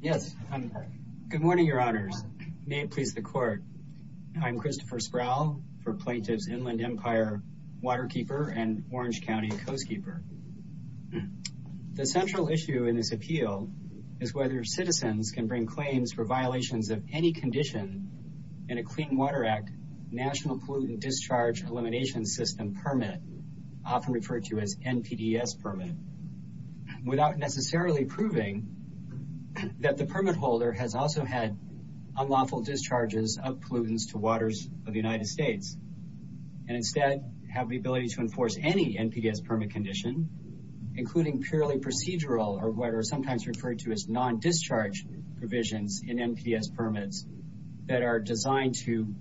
Yes, good morning, your honors. May it please the court. I'm Christopher Sproul for Plaintiffs Inland Empire Waterkeeper and Orange County Coastkeeper. The central issue in this appeal is whether citizens can bring claims for violations of any condition in a Clean Water Act National Pollutant Discharge Elimination System permit, often referred to as NPDES permit, without necessarily proving that the permit holder has also had unlawful discharges of pollutants to waters of the United States, and instead have the ability to enforce any NPDES permit condition, including purely procedural or what are sometimes referred to as non-discharge provisions in NPDES permits that are designed to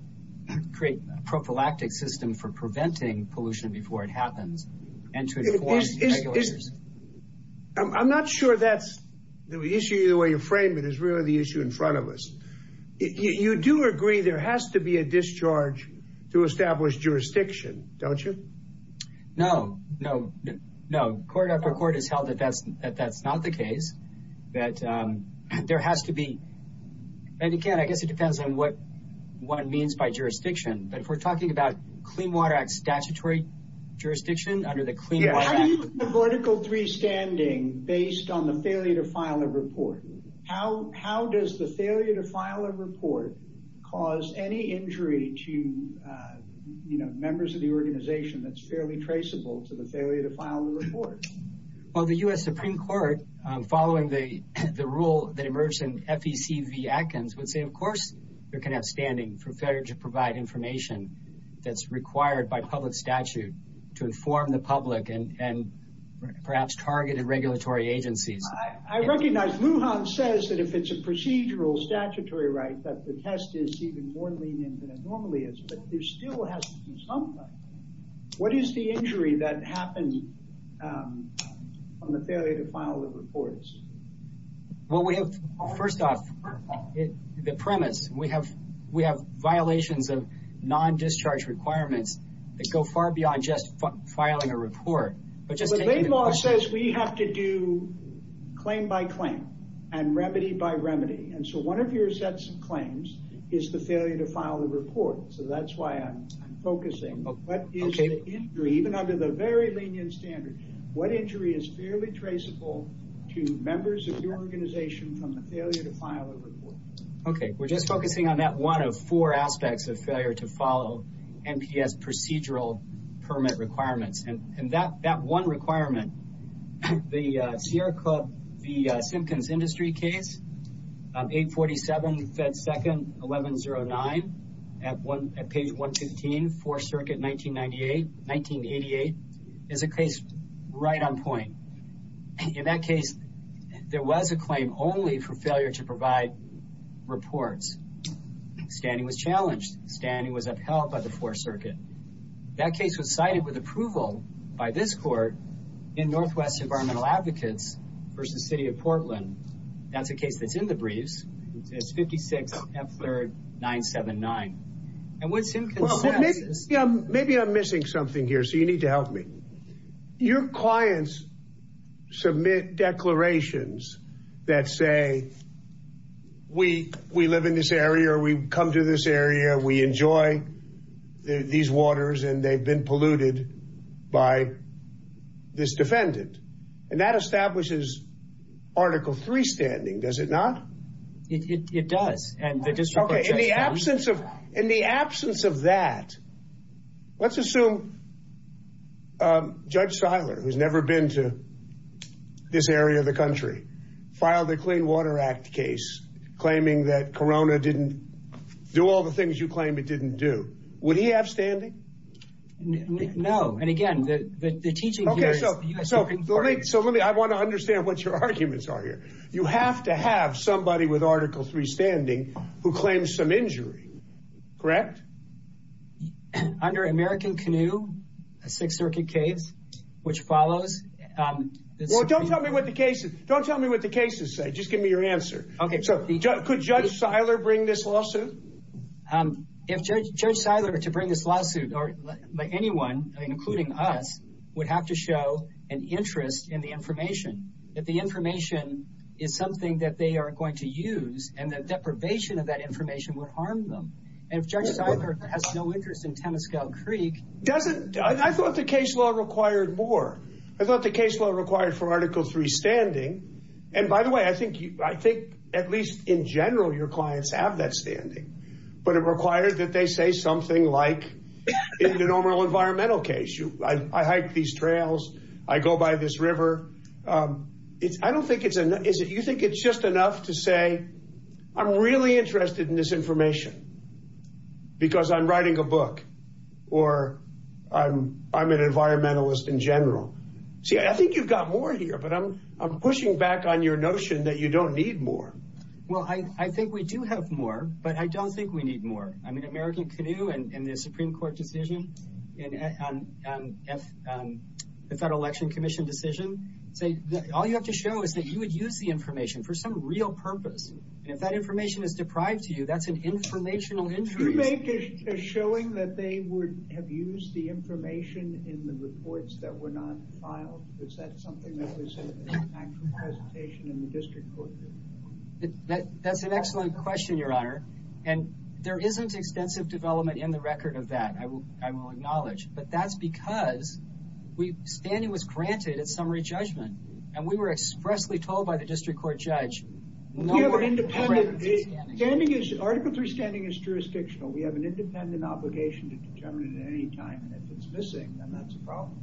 create a prophylactic system for preventing pollution before it happens and to inform regulators. I'm not sure that's the issue either way you frame it is really the issue in front of us. You do agree there has to be a discharge to establish jurisdiction, don't you? No, no, no. Court after court has held that that's not the case, that there has to be, and again I guess it depends on what one means by jurisdiction, but if we're talking about Clean Water Act statutory jurisdiction under the Clean Water Act. Why do you have the vertical three standing based on the failure to file a report? How does the failure to file a report cause any injury to members of the organization that's fairly traceable to the failure to file the report? Well the U.S. Supreme Court following the rule that emerged in FEC v. Atkins would say of course there can have standing for failure to provide information that's required by public statute to inform the public and perhaps targeted regulatory agencies. I recognize Lujan says that if it's a procedural statutory right that the test is even more lenient than it normally is, but there still has to be something. What is the injury that happened on the failure to file the reports? Well we have, first off, the premise we have violations of non-discharge requirements that go far beyond just filing a report. But just to answer your question. The legal law says we have to do claim by claim and remedy by remedy, and so one of your sets of claims is the failure to file the report, so that's why I'm focusing. Okay. What is the injury, even under the very lenient standard, what injury is fairly traceable to members of your organization from the failure to file a report? Okay. We're just focusing on that one of four aspects of failure to follow NPS procedural permit requirements. And that one requirement, the Sierra Club, the Simpkins Industry case, 847 Fed 2nd, 1109, at page 115, 4th Circuit, 1988, is a case right on point. In that case, there was a claim only for failure to provide reports. Standing was challenged. Standing was upheld by the 4th Circuit. That case was cited with approval by this court in Northwest Environmental Advocates versus City of Portland. That's a case that's in the briefs. It's 56 F3rd 979. And what Simpkins says is... Maybe I'm missing something here, so you need to help me. Your clients submit declarations that say, we live in this area or we come to this area, we enjoy these waters, and they've been polluted by this defendant. And that establishes Article III standing, does it not? It does. In the absence of that, let's assume Judge Seiler, who's never been to this area of the country, filed a Clean Water Act case claiming that Corona didn't do all the things you claim it didn't do. Would he have standing? No. And again, the teaching here is the U.S. Supreme Court... So I want to understand what your arguments are here. You have to have somebody with Article III standing who claims some injury, correct? Under American Canoe, a 6th Circuit case, which follows... Well, don't tell me what the cases say. Just give me your answer. Could Judge Seiler bring this lawsuit? If Judge Seiler were to bring this lawsuit, anyone, including us, would have to show an interest in the information. That the information is something that they are going to use, and the deprivation of that information would harm them. And if Judge Seiler has no interest in Temescal Creek... I thought the case law required more. I thought the case law required for Article III standing... And by the way, I think, at least in general, your clients have that standing. But it required that they say something like... In the normal environmental case. I hike these trails. I go by this river. I don't think it's... You think it's just enough to say, I'm really interested in this information. Because I'm writing a book. Or I'm an environmentalist in general. See, I think you've got more here. But I'm pushing back on your notion that you don't need more. Well, I think we do have more. But I don't think we need more. I mean, American Canoe and the Supreme Court decision. And the Federal Election Commission decision. All you have to show is that you would use the information for some real purpose. And if that information is deprived to you, that's an informational injury. Do you make a showing that they would have used the information in the reports that were not filed? Is that something that was in an actual presentation in the District Court? That's an excellent question, Your Honor. And there isn't extensive development in the record of that, I will acknowledge. But that's because standing was granted at summary judgment. And we were expressly told by the District Court judge... We have an independent... Article 3 standing is jurisdictional. We have an independent obligation to determine it at any time. And if it's missing, then that's a problem.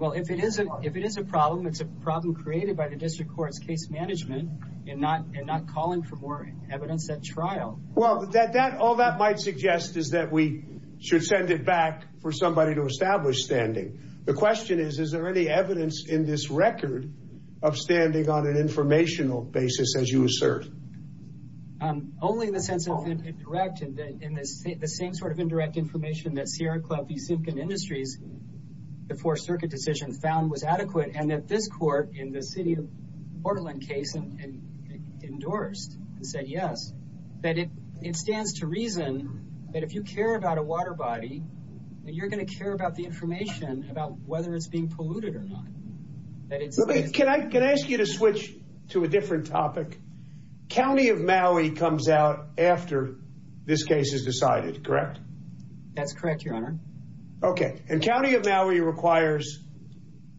Well, if it is a problem, it's a problem created by the District Court's case management and not calling for more evidence at trial. Well, all that might suggest is that we should send it back for somebody to establish standing. The question is, is there any evidence in this record of standing on an informational basis, as you assert? Only in the sense of indirect. In the same sort of indirect information that Sierra Club v. Simpkin Industries, the Fourth Circuit decision, found was adequate. And that this court, in the City of Portland case, endorsed and said yes. That it stands to reason that if you care about a water body, you're going to care about the information about whether it's being polluted or not. Can I ask you to switch to a different topic? County of Maui comes out after this case is decided, correct? That's correct, Your Honor. Okay, and County of Maui requires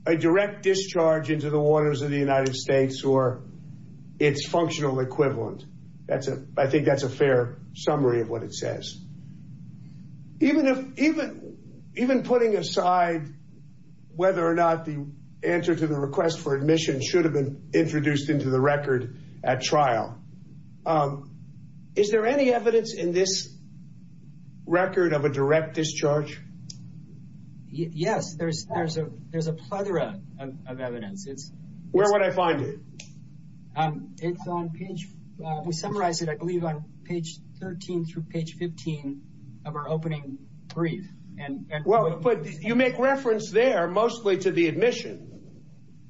a direct discharge into the waters of the United States or its functional equivalent. I think that's a fair summary of what it says. Even putting aside whether or not the answer to the request for admission should have been introduced into the record at trial, is there any evidence in this record of a direct discharge? Yes, there's a plethora of evidence. Where would I find it? It's on page 13 through page 15 of our opening brief. But you make reference there mostly to the admission.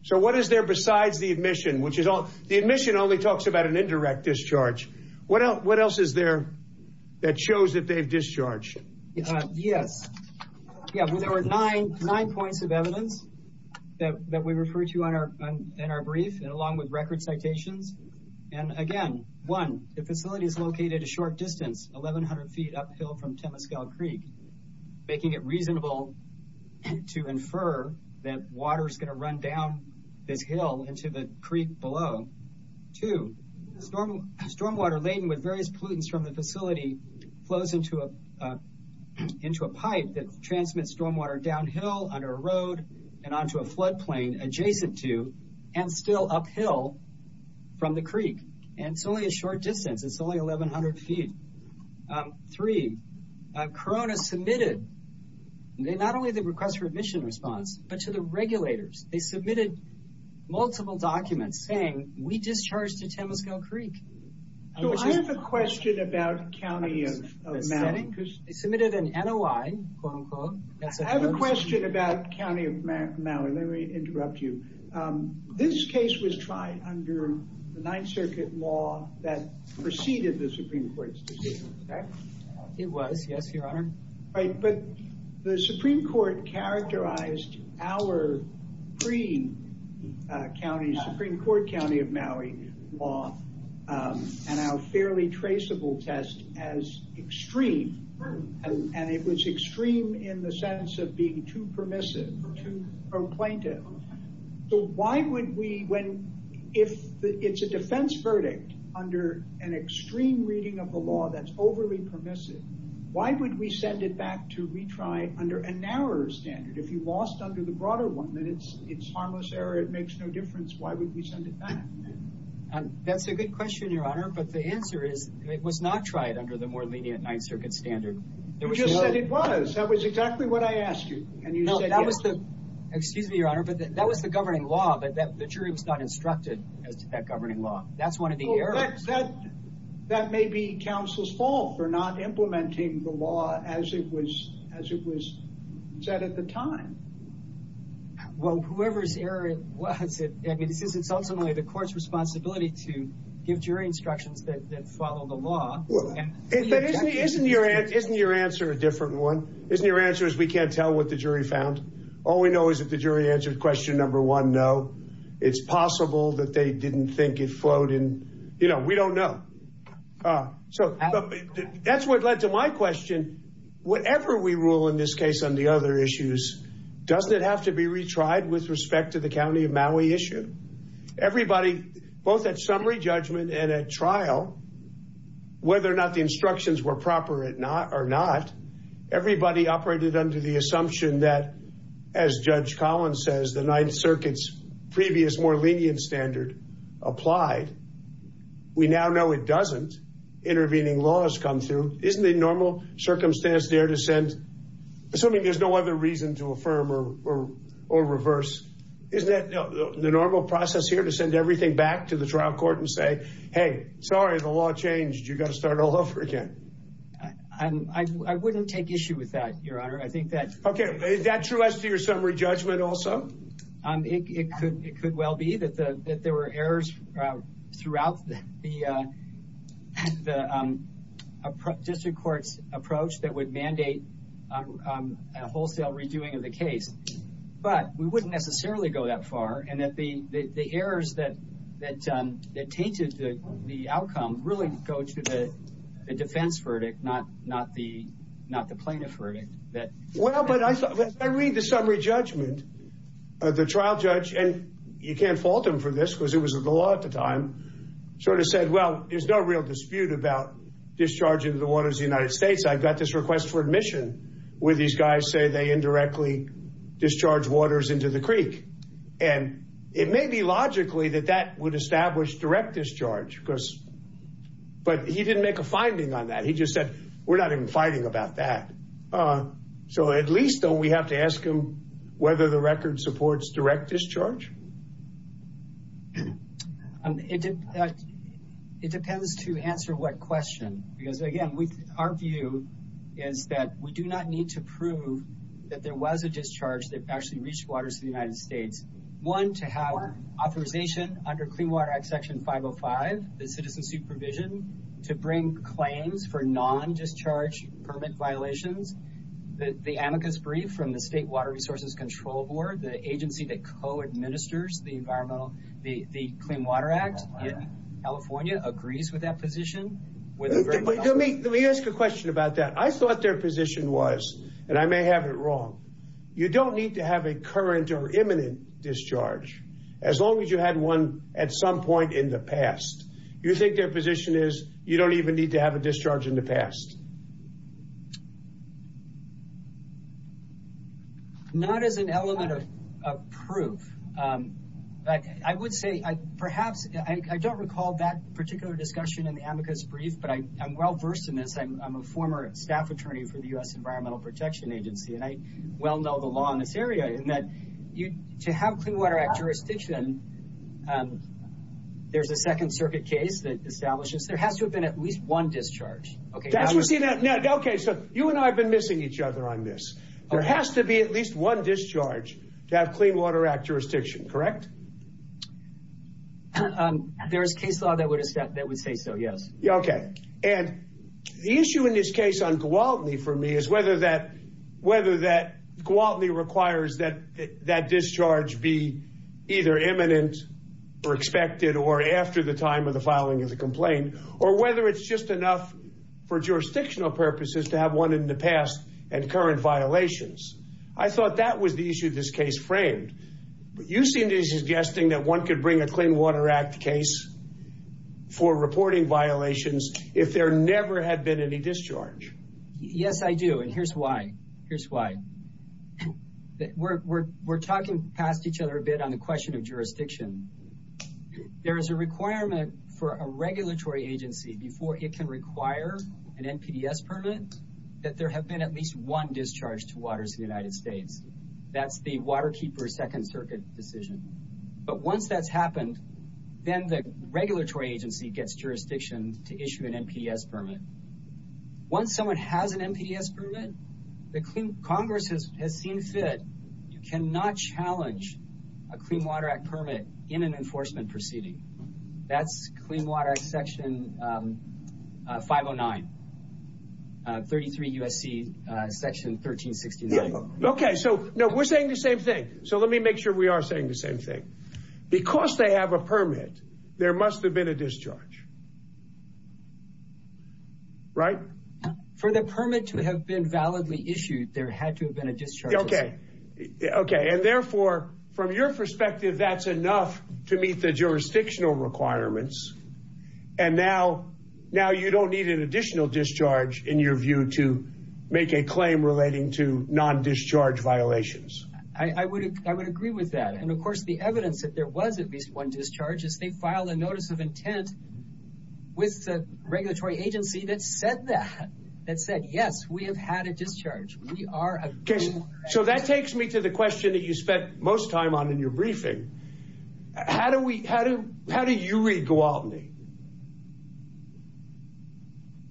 So what is there besides the admission? The admission only talks about an indirect discharge. What else is there that shows that they've discharged? Yes, there were nine points of evidence that we refer to in our brief, along with record citations. And again, one, the facility is located a short distance, 1,100 feet uphill from Temescal Creek, making it reasonable to infer that water is going to run down this hill into the creek below. Two, stormwater laden with various pollutants from the facility flows into a pipe that transmits stormwater downhill, under a road, and onto a floodplain adjacent to, and still uphill from the creek. And it's only a short distance. It's only 1,100 feet. Three, Corona submitted not only the request for admission response, but to the regulators. They submitted multiple documents saying, we discharged to Temescal Creek. So I have a question about County of Mallory. They submitted an NOI, quote, unquote. I have a question about County of Mallory. Let me interrupt you. This case was tried under the Ninth Circuit law that preceded the Supreme Court's decision. It was, yes, Your Honor. But the Supreme Court characterized our pre-County, Supreme Court County of Mallory law, and our fairly traceable test, as extreme. And it was extreme in the sense of being too permissive, too complaintive. So why would we, if it's a defense verdict under an extreme reading of the law that's overly permissive, why would we send it back to retry under a narrower standard? If you lost under the broader one, then it's harmless error. It makes no difference. Why would we send it back? That's a good question, Your Honor. But the answer is it was not tried under the more lenient Ninth Circuit standard. You just said it was. That was exactly what I asked you. And you said yes. Excuse me, Your Honor, but that was the governing law. The jury was not instructed as to that governing law. That's one of the errors. That may be counsel's fault for not implementing the law as it was said at the time. Well, whoever's error it was, it's ultimately the court's responsibility to give jury instructions that follow the law. Isn't your answer a different one? Isn't your answer is we can't tell what the jury found? All we know is that the jury answered question number one, no. It's possible that they didn't think it flowed in. You know, we don't know. So that's what led to my question. Whatever we rule in this case on the other issues, doesn't it have to be retried with respect to the county of Maui issue? Everybody, both at summary judgment and at trial, whether or not the instructions were proper or not, everybody operated under the assumption that, as Judge Collins says, the Ninth Circuit's previous more lenient standard applied. We now know it doesn't. Intervening law has come through. Isn't the normal circumstance there to send? Assuming there's no other reason to affirm or reverse, isn't that the normal process here to send everything back to the trial court and say, hey, sorry, the law changed. You've got to start all over again. I wouldn't take issue with that, Your Honor. I think that's OK. Is that true as to your summary judgment also? It could well be that there were errors throughout the district court's approach that would mandate a wholesale redoing of the case. But we wouldn't necessarily go that far, and that the errors that tainted the outcome really go to the defense verdict, not the plaintiff verdict. Well, but I read the summary judgment. The trial judge, and you can't fault him for this because it was the law at the time, sort of said, well, there's no real dispute about discharging the waters of the United States. I've got this request for admission where these guys say they indirectly discharge waters into the creek. And it may be logically that that would establish direct discharge, but he didn't make a finding on that. He just said, we're not even fighting about that. So at least don't we have to ask him whether the record supports direct discharge? It depends to answer what question. Because, again, our view is that we do not need to prove that there was a discharge that actually reached waters of the United States. One, to have authorization under Clean Water Act Section 505, the citizen supervision, to bring claims for non-discharge permit violations, the amicus brief from the State Water Resources Control Board, the agency that co-administers the Clean Water Act in California agrees with that position. Let me ask a question about that. I thought their position was, and I may have it wrong, you don't need to have a current or imminent discharge, as long as you had one at some point in the past. You think their position is, you don't even need to have a discharge in the past? Not as an element of proof. I would say, perhaps, I don't recall that particular discussion in the amicus brief, but I'm well versed in this. I'm a former staff attorney for the U.S. Environmental Protection Agency, and I well know the law in this area in that to have Clean Water Act jurisdiction, there's a Second Circuit case that establishes there has to have been at least one discharge. Okay. Okay, so you and I have been missing each other on this. There has to be at least one discharge to have Clean Water Act jurisdiction, correct? There is case law that would say so, yes. Okay. And the issue in this case on Gwaltney, for me, is whether that Gwaltney requires that that discharge be either imminent or expected or after the time of the filing of the complaint, or whether it's just enough for jurisdictional purposes to have one in the past and current violations. I thought that was the issue this case framed. You seem to be suggesting that one could bring a Clean Water Act case for reporting violations if there never had been any discharge. Yes, I do, and here's why. Here's why. We're talking past each other a bit on the question of jurisdiction. There is a requirement for a regulatory agency before it can require an NPDES permit that there have been at least one discharge to waters in the United States. That's the Waterkeeper Second Circuit decision. But once that's happened, then the regulatory agency gets jurisdiction to issue an NPDES permit. Once someone has an NPDES permit, the Congress has seen fit. You cannot challenge a Clean Water Act permit in an enforcement proceeding. That's Clean Water Act Section 509, 33 U.S.C. Section 1369. Okay, so we're saying the same thing. So let me make sure we are saying the same thing. Because they have a permit, there must have been a discharge, right? For the permit to have been validly issued, there had to have been a discharge. Okay, and therefore, from your perspective, that's enough to meet the jurisdictional requirements, and now you don't need an additional discharge, in your view, to make a claim relating to non-discharge violations. I would agree with that. And, of course, the evidence that there was at least one discharge is they filed a notice of intent with the regulatory agency that said that. That said, yes, we have had a discharge. We are a Clean Water Act. Okay, so that takes me to the question that you spent most time on in your briefing. How do you read Gwaltney?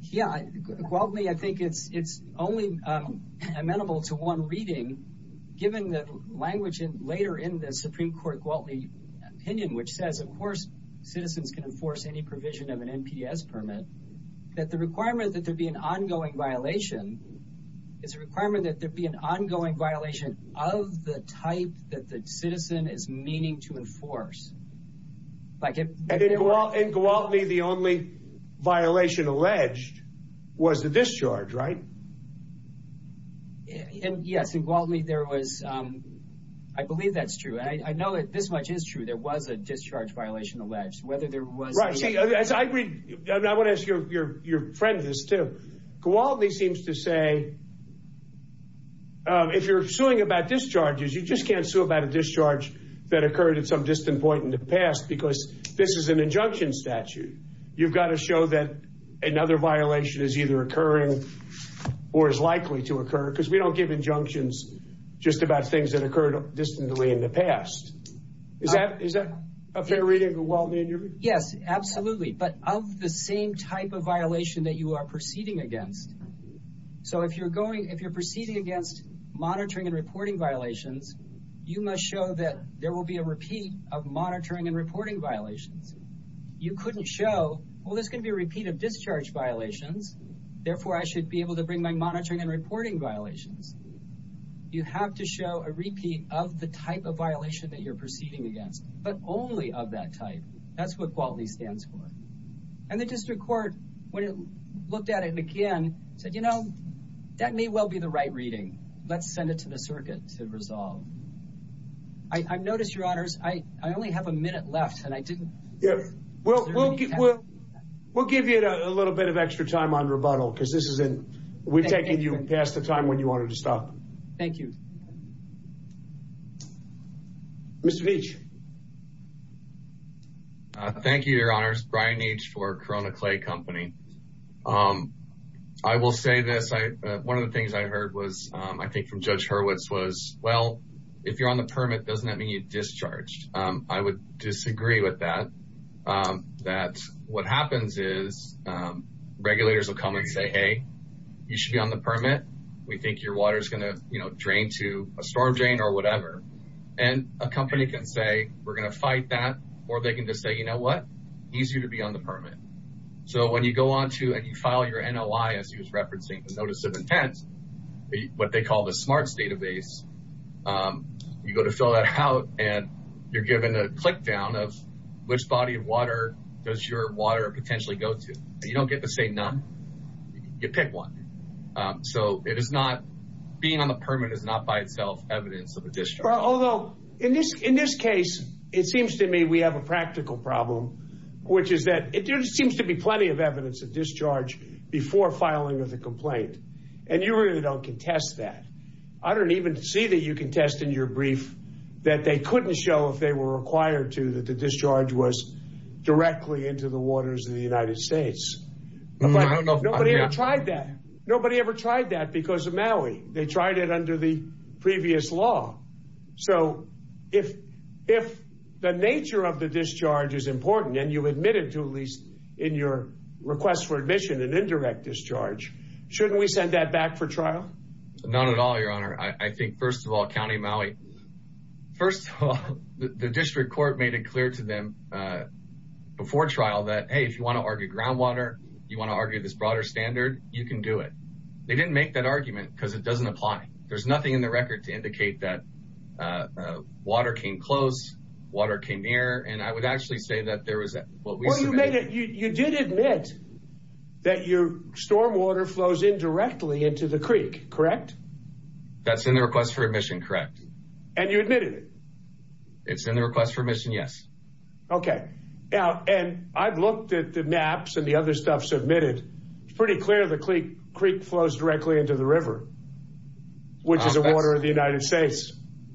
Yeah, Gwaltney, I think it's only amenable to one reading, given the language later in the Supreme Court Gwaltney opinion, which says, of course, citizens can enforce any provision of an NPS permit, that the requirement that there be an ongoing violation is a requirement that there be an ongoing violation of the type that the citizen is meaning to enforce. And in Gwaltney, the only violation alleged was the discharge, right? Yes, in Gwaltney, there was. I believe that's true. I know that this much is true. There was a discharge violation alleged, whether there was. Right. See, as I read, and I want to ask your friend this, too. Gwaltney seems to say, if you're suing about discharges, you just can't sue about a discharge that occurred at some distant point in the past because this is an injunction statute. You've got to show that another violation is either occurring or is likely to occur because we don't give injunctions just about things that occurred distantly in the past. Is that a fair reading of Gwaltney in your view? Yes, absolutely. But of the same type of violation that you are proceeding against. So if you're proceeding against monitoring and reporting violations, you must show that there will be a repeat of monitoring and reporting violations. You couldn't show, well, there's going to be a repeat of discharge violations. Therefore, I should be able to bring my monitoring and reporting violations. You have to show a repeat of the type of violation that you're proceeding against, but only of that type. That's what Gwaltney stands for. And the district court, when it looked at it again, said, you know, that may well be the right reading. Let's send it to the circuit to resolve. I've noticed, Your Honors, I only have a minute left, and I didn't. We'll give you a little bit of extra time on rebuttal because we've taken you past the time when you wanted to stop. Thank you. Mr. Veach. Thank you, Your Honors. Brian Veach for Corona Clay Company. I will say this. One of the things I heard was, I think from Judge Hurwitz, was, well, if you're on the permit, doesn't that mean you're discharged? I would disagree with that, that what happens is regulators will come and say, hey, you should be on the permit. We think your water is going to, you know, drain to a storm drain or whatever. And a company can say, we're going to fight that, or they can just say, you know what, easier to be on the permit. So when you go on to and you file your NOI, as he was referencing the notice of intent, what they call the SMARTS database, you go to fill that out, and you're given a click down of which body of water does your water potentially go to. You don't get to say none. You pick one. So it is not, being on the permit is not by itself evidence of a discharge. Although, in this case, it seems to me we have a practical problem, which is that there seems to be plenty of evidence of discharge before filing with a complaint. And you really don't contest that. I don't even see that you contest in your brief that they couldn't show, if they were required to, that the discharge was directly into the waters of the United States. Nobody ever tried that. Nobody ever tried that because of Maui. They tried it under the previous law. So if the nature of the discharge is important, and you admit it to at least in your request for admission, an indirect discharge, shouldn't we send that back for trial? Not at all, Your Honor. I think, first of all, County of Maui, first of all, the district court made it clear to them before trial that, hey, if you want to argue groundwater, you want to argue this broader standard, you can do it. They didn't make that argument because it doesn't apply. There's nothing in the record to indicate that water came close, water came near, and I would actually say that there was what we submitted. Well, you did admit that your stormwater flows indirectly into the creek, correct? That's in the request for admission, correct. And you admitted it? It's in the request for admission, yes. Okay. And I've looked at the maps and the other stuff submitted. It's pretty clear the creek flows directly into the river, which is the water of the United States.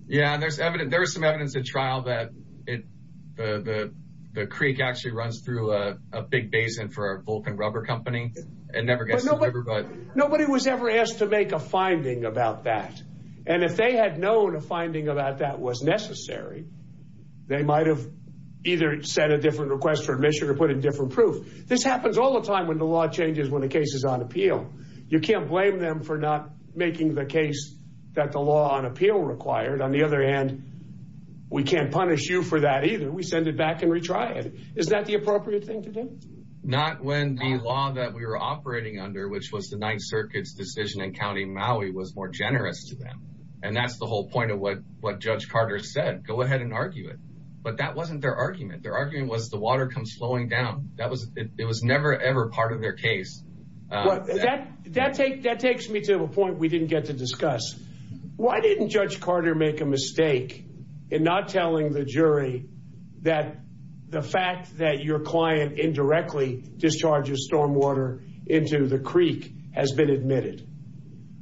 Yeah, and there's some evidence at trial that the creek actually runs through a big basin for a Vulcan rubber company. It never gets to the river. Nobody was ever asked to make a finding about that. And if they had known a finding about that was necessary, they might have either sent a different request for admission or put in different proof. This happens all the time when the law changes when a case is on appeal. You can't blame them for not making the case that the law on appeal required. On the other hand, we can't punish you for that either. We send it back and retry it. Is that the appropriate thing to do? Not when the law that we were operating under, which was the Ninth Circuit's decision in County Maui, was more generous to them. And that's the whole point of what Judge Carter said. Go ahead and argue it. But that wasn't their argument. Their argument was the water comes slowing down. It was never, ever part of their case. That takes me to a point we didn't get to discuss. Why didn't Judge Carter make a mistake in not telling the jury that the fact that your client indirectly discharges stormwater into the creek has been admitted?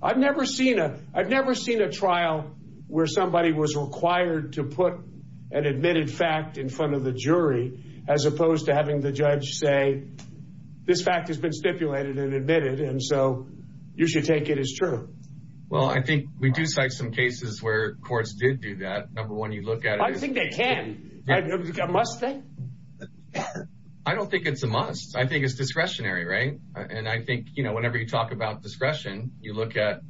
I've never seen a trial where somebody was required to put an admitted fact in front of the jury as opposed to having the judge say, this fact has been stipulated and admitted, and so you should take it as true. Well, I think we do cite some cases where courts did do that. Number one, you look at it. I think they can. A must thing? I don't think it's a must. I think it's discretionary, right? And I think, you know, whenever you talk about discretion, you look at,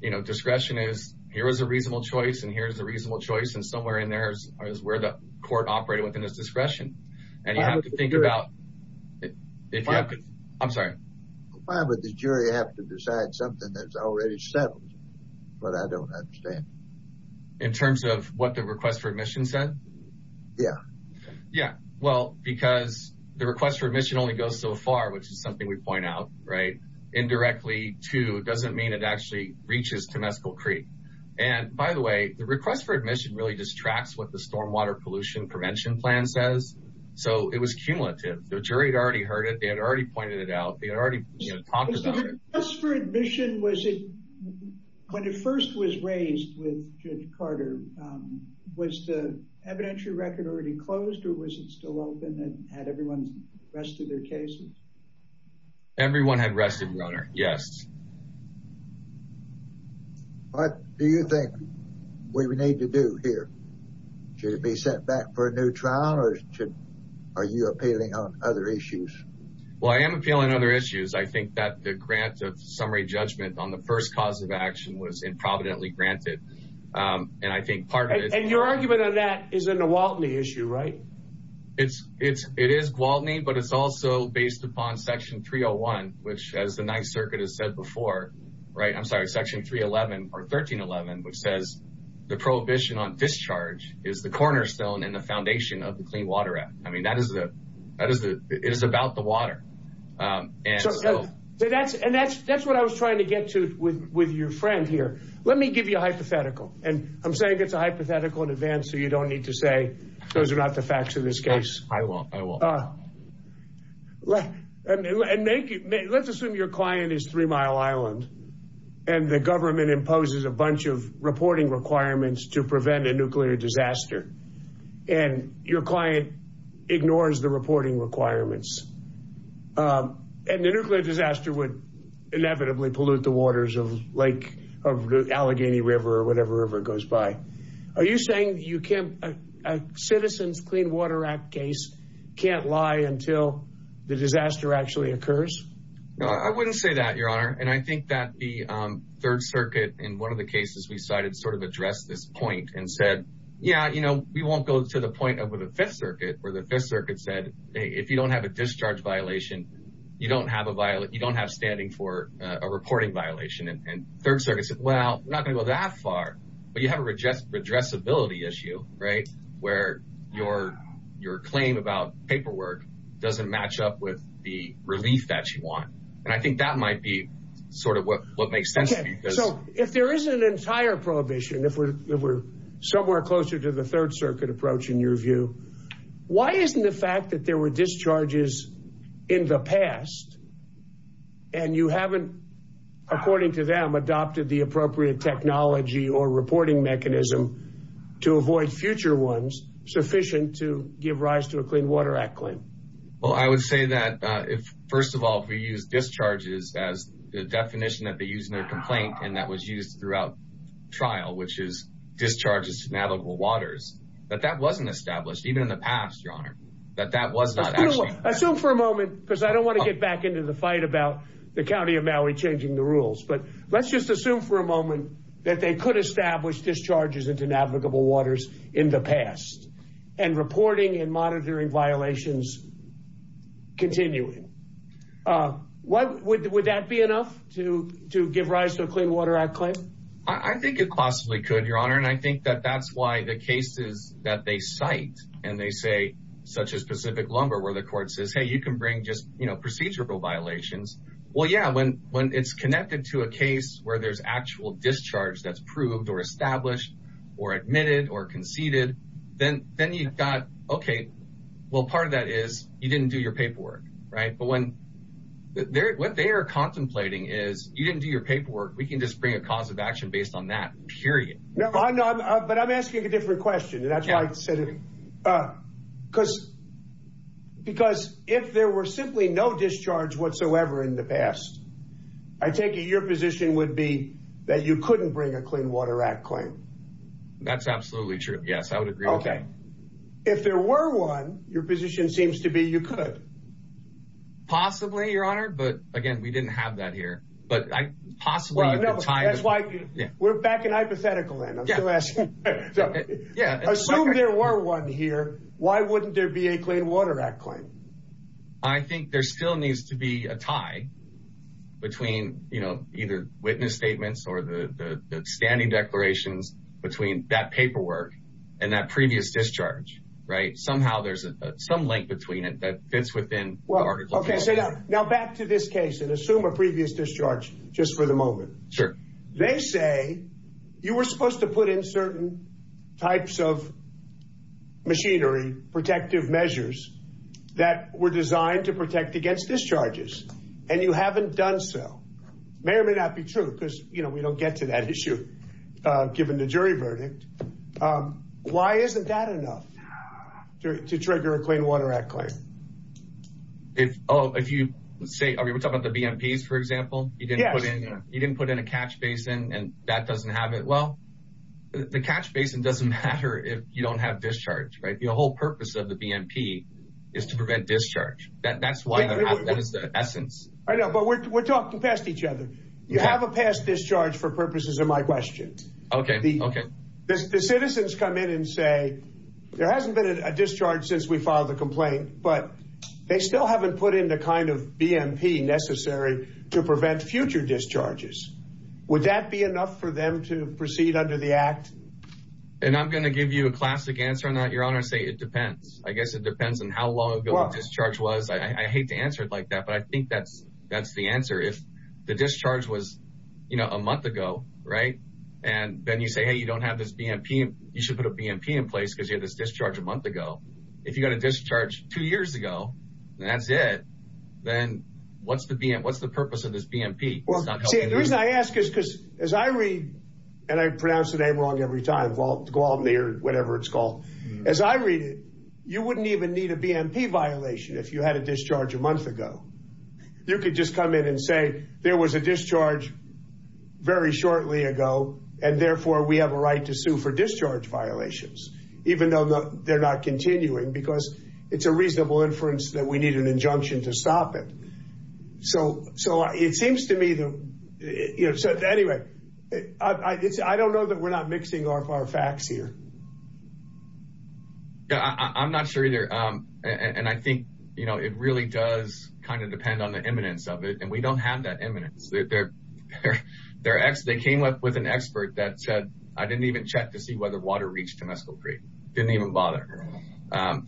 you know, discretion is here is a reasonable choice, and here is a reasonable choice, and somewhere in there is where the court operated within its discretion. And you have to think about it. I'm sorry. Why would the jury have to decide something that's already settled? But I don't understand. In terms of what the request for admission said? Yeah. Yeah, well, because the request for admission only goes so far, which is something we point out, right? Indirectly to doesn't mean it actually reaches Temescal Creek. And, by the way, the request for admission really just tracks what the stormwater pollution prevention plan says. So it was cumulative. The jury had already heard it. They had already pointed it out. They had already talked about it. The request for admission, when it first was raised with Judge Carter, was the evidentiary record already closed, or was it still open and had everyone rested their cases? Everyone had rested, Your Honor. Yes. What do you think we need to do here? Should it be sent back for a new trial, or are you appealing on other issues? Well, I am appealing on other issues. I think that the grant of summary judgment on the first cause of action was improvidently granted. And I think part of it — And your argument on that is a Gwaltney issue, right? It is Gwaltney, but it's also based upon Section 301, which, as the Ninth Circuit has said before — I'm sorry, Section 311, or 1311, which says the prohibition on discharge is the cornerstone and the foundation of the Clean Water Act. I mean, that is the — it is about the water. And so — And that's what I was trying to get to with your friend here. Let me give you a hypothetical. And I'm saying it's a hypothetical in advance so you don't need to say those are not the facts of this case. I won't. I won't. And make it — let's assume your client is Three Mile Island, and the government imposes a bunch of reporting requirements to prevent a nuclear disaster, and your client ignores the reporting requirements. And the nuclear disaster would inevitably pollute the waters of Lake — of Allegheny River or whatever river goes by. Are you saying you can't — a Citizens Clean Water Act case can't lie until the disaster actually occurs? No, I wouldn't say that, Your Honor. And I think that the Third Circuit, in one of the cases we cited, sort of addressed this point and said, yeah, you know, we won't go to the point of the Fifth Circuit, where the Fifth Circuit said, hey, if you don't have a discharge violation, you don't have a — you don't have standing for a reporting violation. And Third Circuit said, well, we're not going to go that far. But you have a redressability issue, right, where your claim about paperwork doesn't match up with the relief that you want. And I think that might be sort of what makes sense to me. Okay, so if there is an entire prohibition, if we're somewhere closer to the Third Circuit approach, in your view, why isn't the fact that there were discharges in the past, and you haven't, according to them, adopted the appropriate technology or reporting mechanism to avoid future ones, sufficient to give rise to a Clean Water Act claim? Well, I would say that, first of all, if we use discharges as the definition that they use in their complaint and that was used throughout trial, which is discharges to navigable waters, that that wasn't established, even in the past, Your Honor. That that was not actually... Assume for a moment, because I don't want to get back into the fight about the County of Maui changing the rules, but let's just assume for a moment that they could establish discharges into navigable waters in the past and reporting and monitoring violations continuing. Would that be enough to give rise to a Clean Water Act claim? I think it possibly could, Your Honor, and I think that that's why the cases that they cite and they say, such as Pacific Lumber, where the court says, hey, you can bring just procedural violations. Well, yeah, when it's connected to a case where there's actual discharge that's proved or established or admitted or conceded, then you've got, okay, well, part of that is you didn't do your paperwork, right? But what they are contemplating is you didn't do your paperwork. We can just bring a cause of action based on that, period. No, but I'm asking a different question, and that's why I said it, because if there were simply no discharge whatsoever in the past, I take it your position would be that you couldn't bring a Clean Water Act claim. That's absolutely true, yes, I would agree with that. If there were one, your position seems to be you could. Possibly, Your Honor, but, again, we didn't have that here, but possibly you could tie this. We're back in hypothetical land. I'm still asking. Assume there were one here. Why wouldn't there be a Clean Water Act claim? I think there still needs to be a tie between, you know, either witness statements or the standing declarations between that paperwork and that previous discharge, right? Somehow there's some link between it that fits within the article. Okay, so now back to this case, and assume a previous discharge just for the moment. Sure. They say you were supposed to put in certain types of machinery, protective measures that were designed to protect against discharges, and you haven't done so. It may or may not be true, because, you know, we don't get to that issue given the jury verdict. Why isn't that enough to trigger a Clean Water Act claim? If you say—are we talking about the BMPs, for example? Yes. You didn't put in a catch basin, and that doesn't have it. Well, the catch basin doesn't matter if you don't have discharge, right? The whole purpose of the BMP is to prevent discharge. That's why that is the essence. I know, but we're talking past each other. You have a past discharge for purposes of my question. Okay, okay. The citizens come in and say, there hasn't been a discharge since we filed the complaint, but they still haven't put in the kind of BMP necessary to prevent future discharges. Would that be enough for them to proceed under the Act? And I'm going to give you a classic answer on that, Your Honor, and say it depends. I guess it depends on how long ago the discharge was. I hate to answer it like that, but I think that's the answer. If the discharge was, you know, a month ago, right, and then you say, hey, you don't have this BMP, you should put a BMP in place because you had this discharge a month ago. If you got a discharge two years ago and that's it, then what's the purpose of this BMP? See, the reason I ask is because as I read, and I pronounce the name wrong every time, to go out there, whatever it's called. As I read it, you wouldn't even need a BMP violation if you had a discharge a month ago. You could just come in and say there was a discharge very shortly ago, and therefore we have a right to sue for discharge violations, even though they're not continuing, because it's a reasonable inference that we need an injunction to stop it. So it seems to me that, you know, anyway, I don't know that we're not mixing up our facts here. I'm not sure either, and I think, you know, it really does kind of depend on the imminence of it, and we don't have that imminence. They came up with an expert that said, I didn't even check to see whether water reached Temesco Creek. Didn't even bother.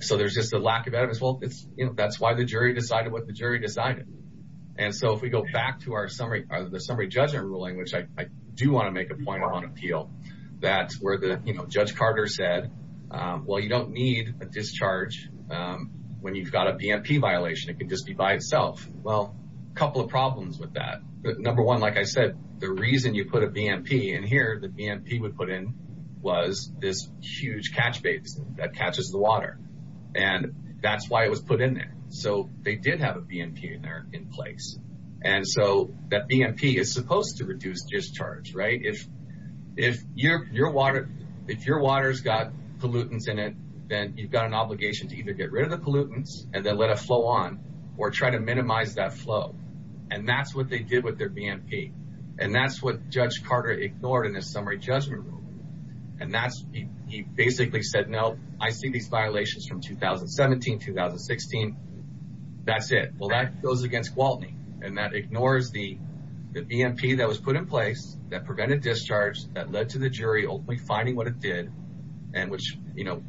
So there's just a lack of evidence. Well, that's why the jury decided what the jury decided. And so if we go back to the summary judgment ruling, which I do want to make a point on appeal, that's where Judge Carter said, well, you don't need a discharge when you've got a BMP violation. It can just be by itself. Well, a couple of problems with that. Number one, like I said, the reason you put a BMP in here, the BMP we put in was this huge catch basin that catches the water. And that's why it was put in there. So they did have a BMP in there in place. And so that BMP is supposed to reduce discharge, right? If your water has got pollutants in it, then you've got an obligation to either get rid of the pollutants and then let it flow on or try to minimize that flow. And that's what they did with their BMP. And that's what Judge Carter ignored in his summary judgment ruling. And he basically said, no, I see these violations from 2017, 2016, that's it. Well, that goes against Gwaltney. And that ignores the BMP that was put in place that prevented discharge, that led to the jury ultimately finding what it did, and which,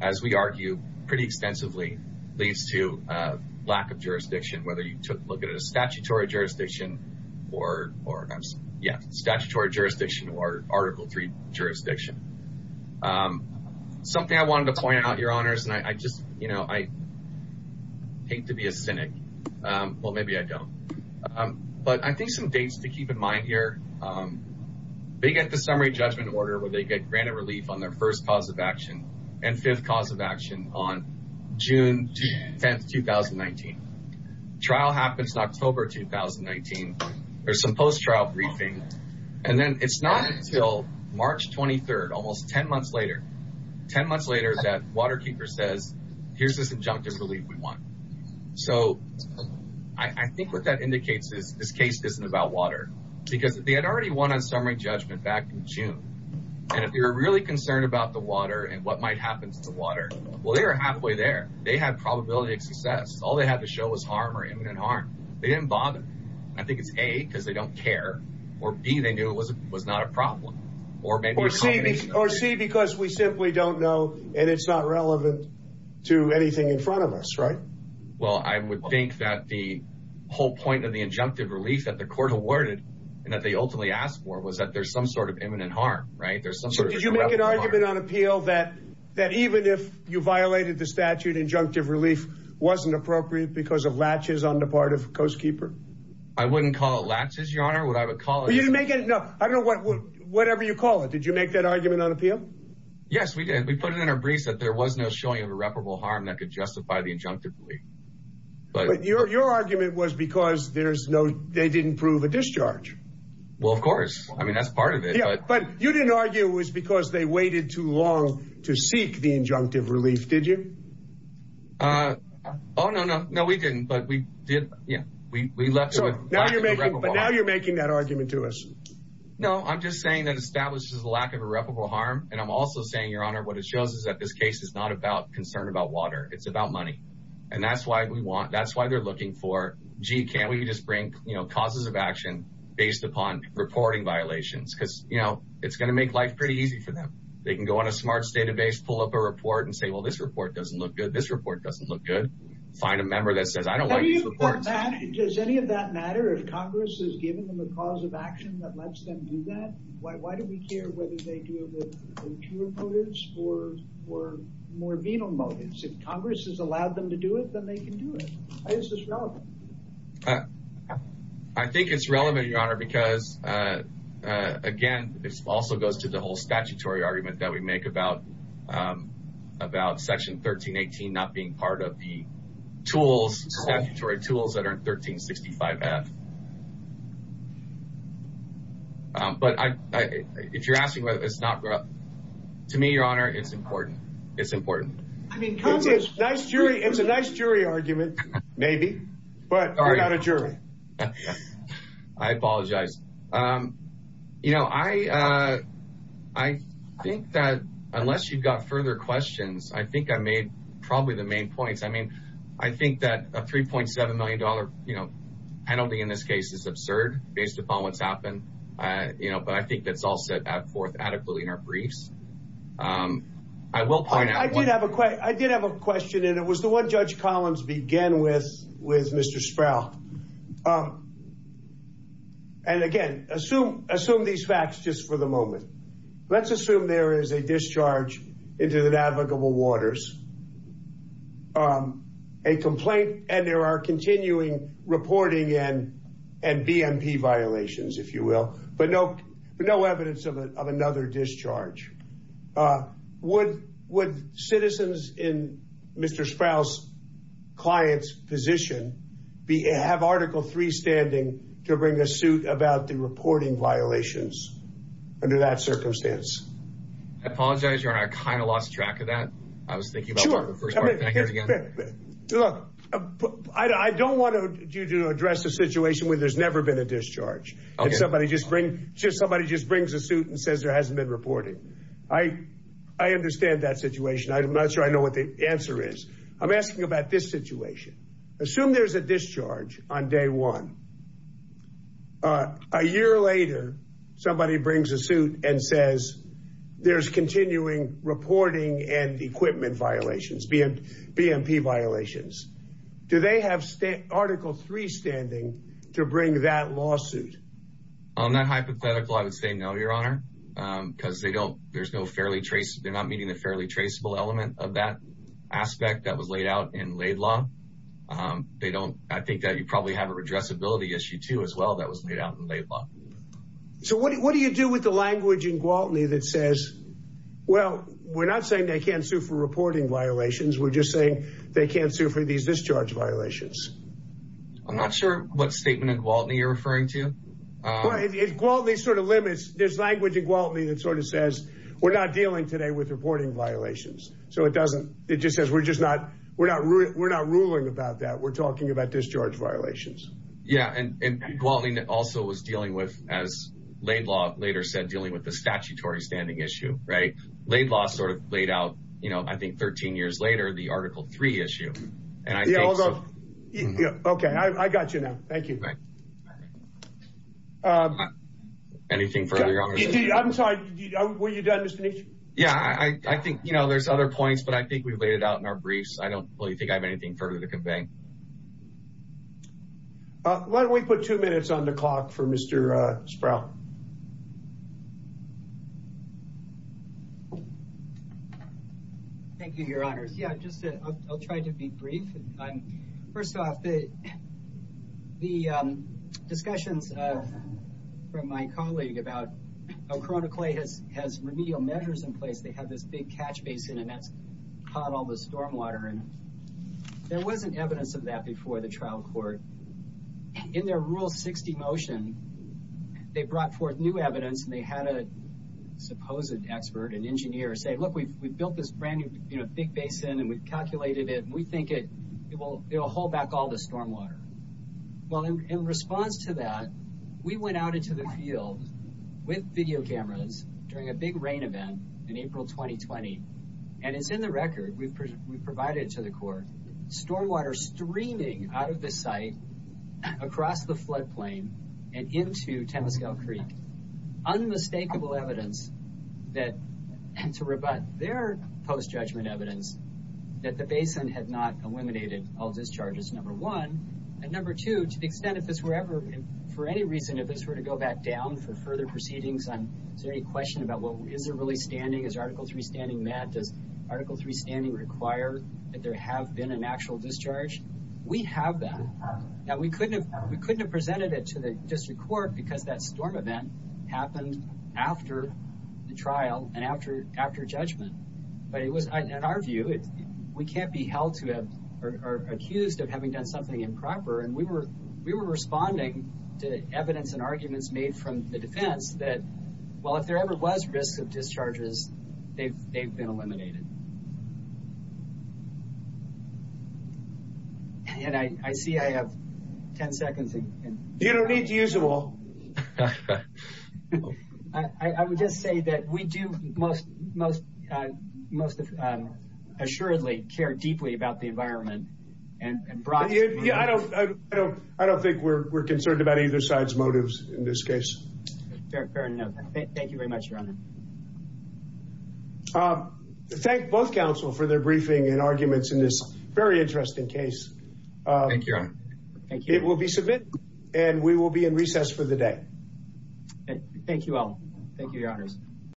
as we argue, pretty extensively leads to lack of jurisdiction, whether you look at it as statutory jurisdiction or Article III jurisdiction. Something I wanted to point out, Your Honors, and I just, you know, I hate to be a cynic. Well, maybe I don't. But I think some dates to keep in mind here, they get the summary judgment order where they get granted relief on their first cause of action and fifth cause of action on June 10th, 2019. Trial happens in October 2019. There's some post-trial briefing. And then it's not until March 23rd, almost 10 months later, 10 months later that Waterkeeper says, here's this injunctive relief we want. So I think what that indicates is this case isn't about water. Because they had already won on summary judgment back in June. And if you're really concerned about the water and what might happen to the water, well, they were halfway there. They had probability of success. All they had to show was harm or imminent harm. They didn't bother. I think it's A, because they don't care, or B, they knew it was not a problem. Or C, because we simply don't know and it's not relevant to anything in front of us, right? Well, I would think that the whole point of the injunctive relief that the court awarded and that they ultimately asked for was that there's some sort of imminent harm, right? So did you make an argument on appeal that even if you violated the statute, injunctive relief wasn't appropriate because of latches on the part of Coast Keeper? I wouldn't call it latches, Your Honor. Would I call it? No, I don't know. Whatever you call it. Did you make that argument on appeal? Yes, we did. We put it in our briefs that there was no showing of irreparable harm that could justify the injunctive relief. But your argument was because they didn't prove a discharge. Well, of course. I mean, that's part of it. But you didn't argue it was because they waited too long to seek the injunctive relief, did you? Oh, no, no. No, we didn't. But we did. We left with lack of irreparable harm. But now you're making that argument to us. No, I'm just saying that it establishes a lack of irreparable harm. And I'm also saying, Your Honor, what it shows is that this case is not about concern about water. It's about money. And that's why they're looking for, gee, can't we just bring causes of action based upon reporting violations? Because, you know, it's going to make life pretty easy for them. They can go on a smarts database, pull up a report, and say, well, this report doesn't look good. This report doesn't look good. Find a member that says, I don't like these reports. Does any of that matter if Congress has given them a cause of action that lets them do that? Why do we care whether they do it with impure motives or more venal motives? If Congress has allowed them to do it, then they can do it. Why is this relevant? I think it's relevant, Your Honor, because, again, this also goes to the whole statutory argument that we make about Section 1318 not being part of the tools, statutory tools that are in 1365F. But if you're asking whether it's not relevant, to me, Your Honor, it's important. It's a nice jury argument, maybe, but you're not a jury. I apologize. You know, I think that unless you've got further questions, I think I made probably the main points. I mean, I think that a $3.7 million penalty in this case is absurd based upon what's happened, but I think that's all set forth adequately in our briefs. I will point out one thing. I did have a question, and it was the one Judge Collins began with, with Mr. Sproul. And, again, assume these facts just for the moment. Let's assume there is a discharge into the navigable waters, a complaint, and there are continuing reporting and BMP violations, if you will, but no evidence of another discharge. Would citizens in Mr. Sproul's client's position have Article III standing to bring a suit about the reporting violations under that circumstance? I apologize, Your Honor. I kind of lost track of that. I was thinking about the first part. Can I hear it again? Look, I don't want you to address the situation where there's never been a discharge. Somebody just brings a suit and says there hasn't been reporting. I understand that situation. I'm not sure I know what the answer is. I'm asking about this situation. Assume there's a discharge on day one. A year later, somebody brings a suit and says there's continuing reporting and equipment violations, BMP violations. Do they have Article III standing to bring that lawsuit? I'm not hypothetical. I would say no, Your Honor, because they're not meeting the fairly traceable element of that aspect that was laid out in Laid Law. I think that you probably have a redressability issue, too, as well, that was laid out in Laid Law. So what do you do with the language in Gwaltney that says, well, we're not saying they can't sue for reporting violations. We're just saying they can't sue for these discharge violations. I'm not sure what statement in Gwaltney you're referring to. Gwaltney sort of limits. There's language in Gwaltney that sort of says we're not dealing today with reporting violations. So it just says we're not ruling about that. We're talking about discharge violations. Yeah, and Gwaltney also was dealing with, as Laid Law later said, dealing with the statutory standing issue, right? Laid Law sort of laid out, you know, I think 13 years later, the Article III issue. Yeah, okay. I got you now. Thank you. Anything further? I'm sorry. Were you done, Mr. Nietzsche? Yeah, I think, you know, there's other points, but I think we've laid it out in our briefs. I don't really think I have anything further to convey. Why don't we put two minutes on the clock for Mr. Sproul? Thank you, Your Honors. Yeah, I'll try to be brief. First off, the discussions from my colleague about how CoronaClay has remedial measures in place. They have this big catch basin, and that's caught all the stormwater. There wasn't evidence of that before the trial court. In their Rule 60 motion, they brought forth new evidence, and they had a supposed expert, an engineer, say, Look, we've built this brand-new, you know, big basin, and we've calculated it, and we think it will hold back all the stormwater. Well, in response to that, we went out into the field with video cameras during a big rain event in April 2020, and it's in the record we've provided to the court. Stormwater streaming out of the site, across the floodplain, and into Temescal Creek. Unmistakable evidence to rebut their post-judgment evidence that the basin had not eliminated all discharges, number one. And number two, to the extent if this were ever, for any reason, if this were to go back down for further proceedings, is there any question about, well, is it really standing? Is Article 3 standing, Matt? Does Article 3 standing require that there have been an actual discharge? We have that. Now, we couldn't have presented it to the district court because that storm event happened after the trial and after judgment. But it was, in our view, we can't be held to or accused of having done something improper. And we were responding to evidence and arguments made from the defense that, well, if there ever was risk of discharges, they've been eliminated. And I see I have ten seconds. You don't need to use them all. I would just say that we do most assuredly care deeply about the environment. I don't think we're concerned about either side's motives in this case. Fair enough. Thank you very much, Your Honor. Thank both counsel for their briefing and arguments in this very interesting case. Thank you, Your Honor. It will be submitted, and we will be in recess for the day. Thank you all. Thank you, Your Honors.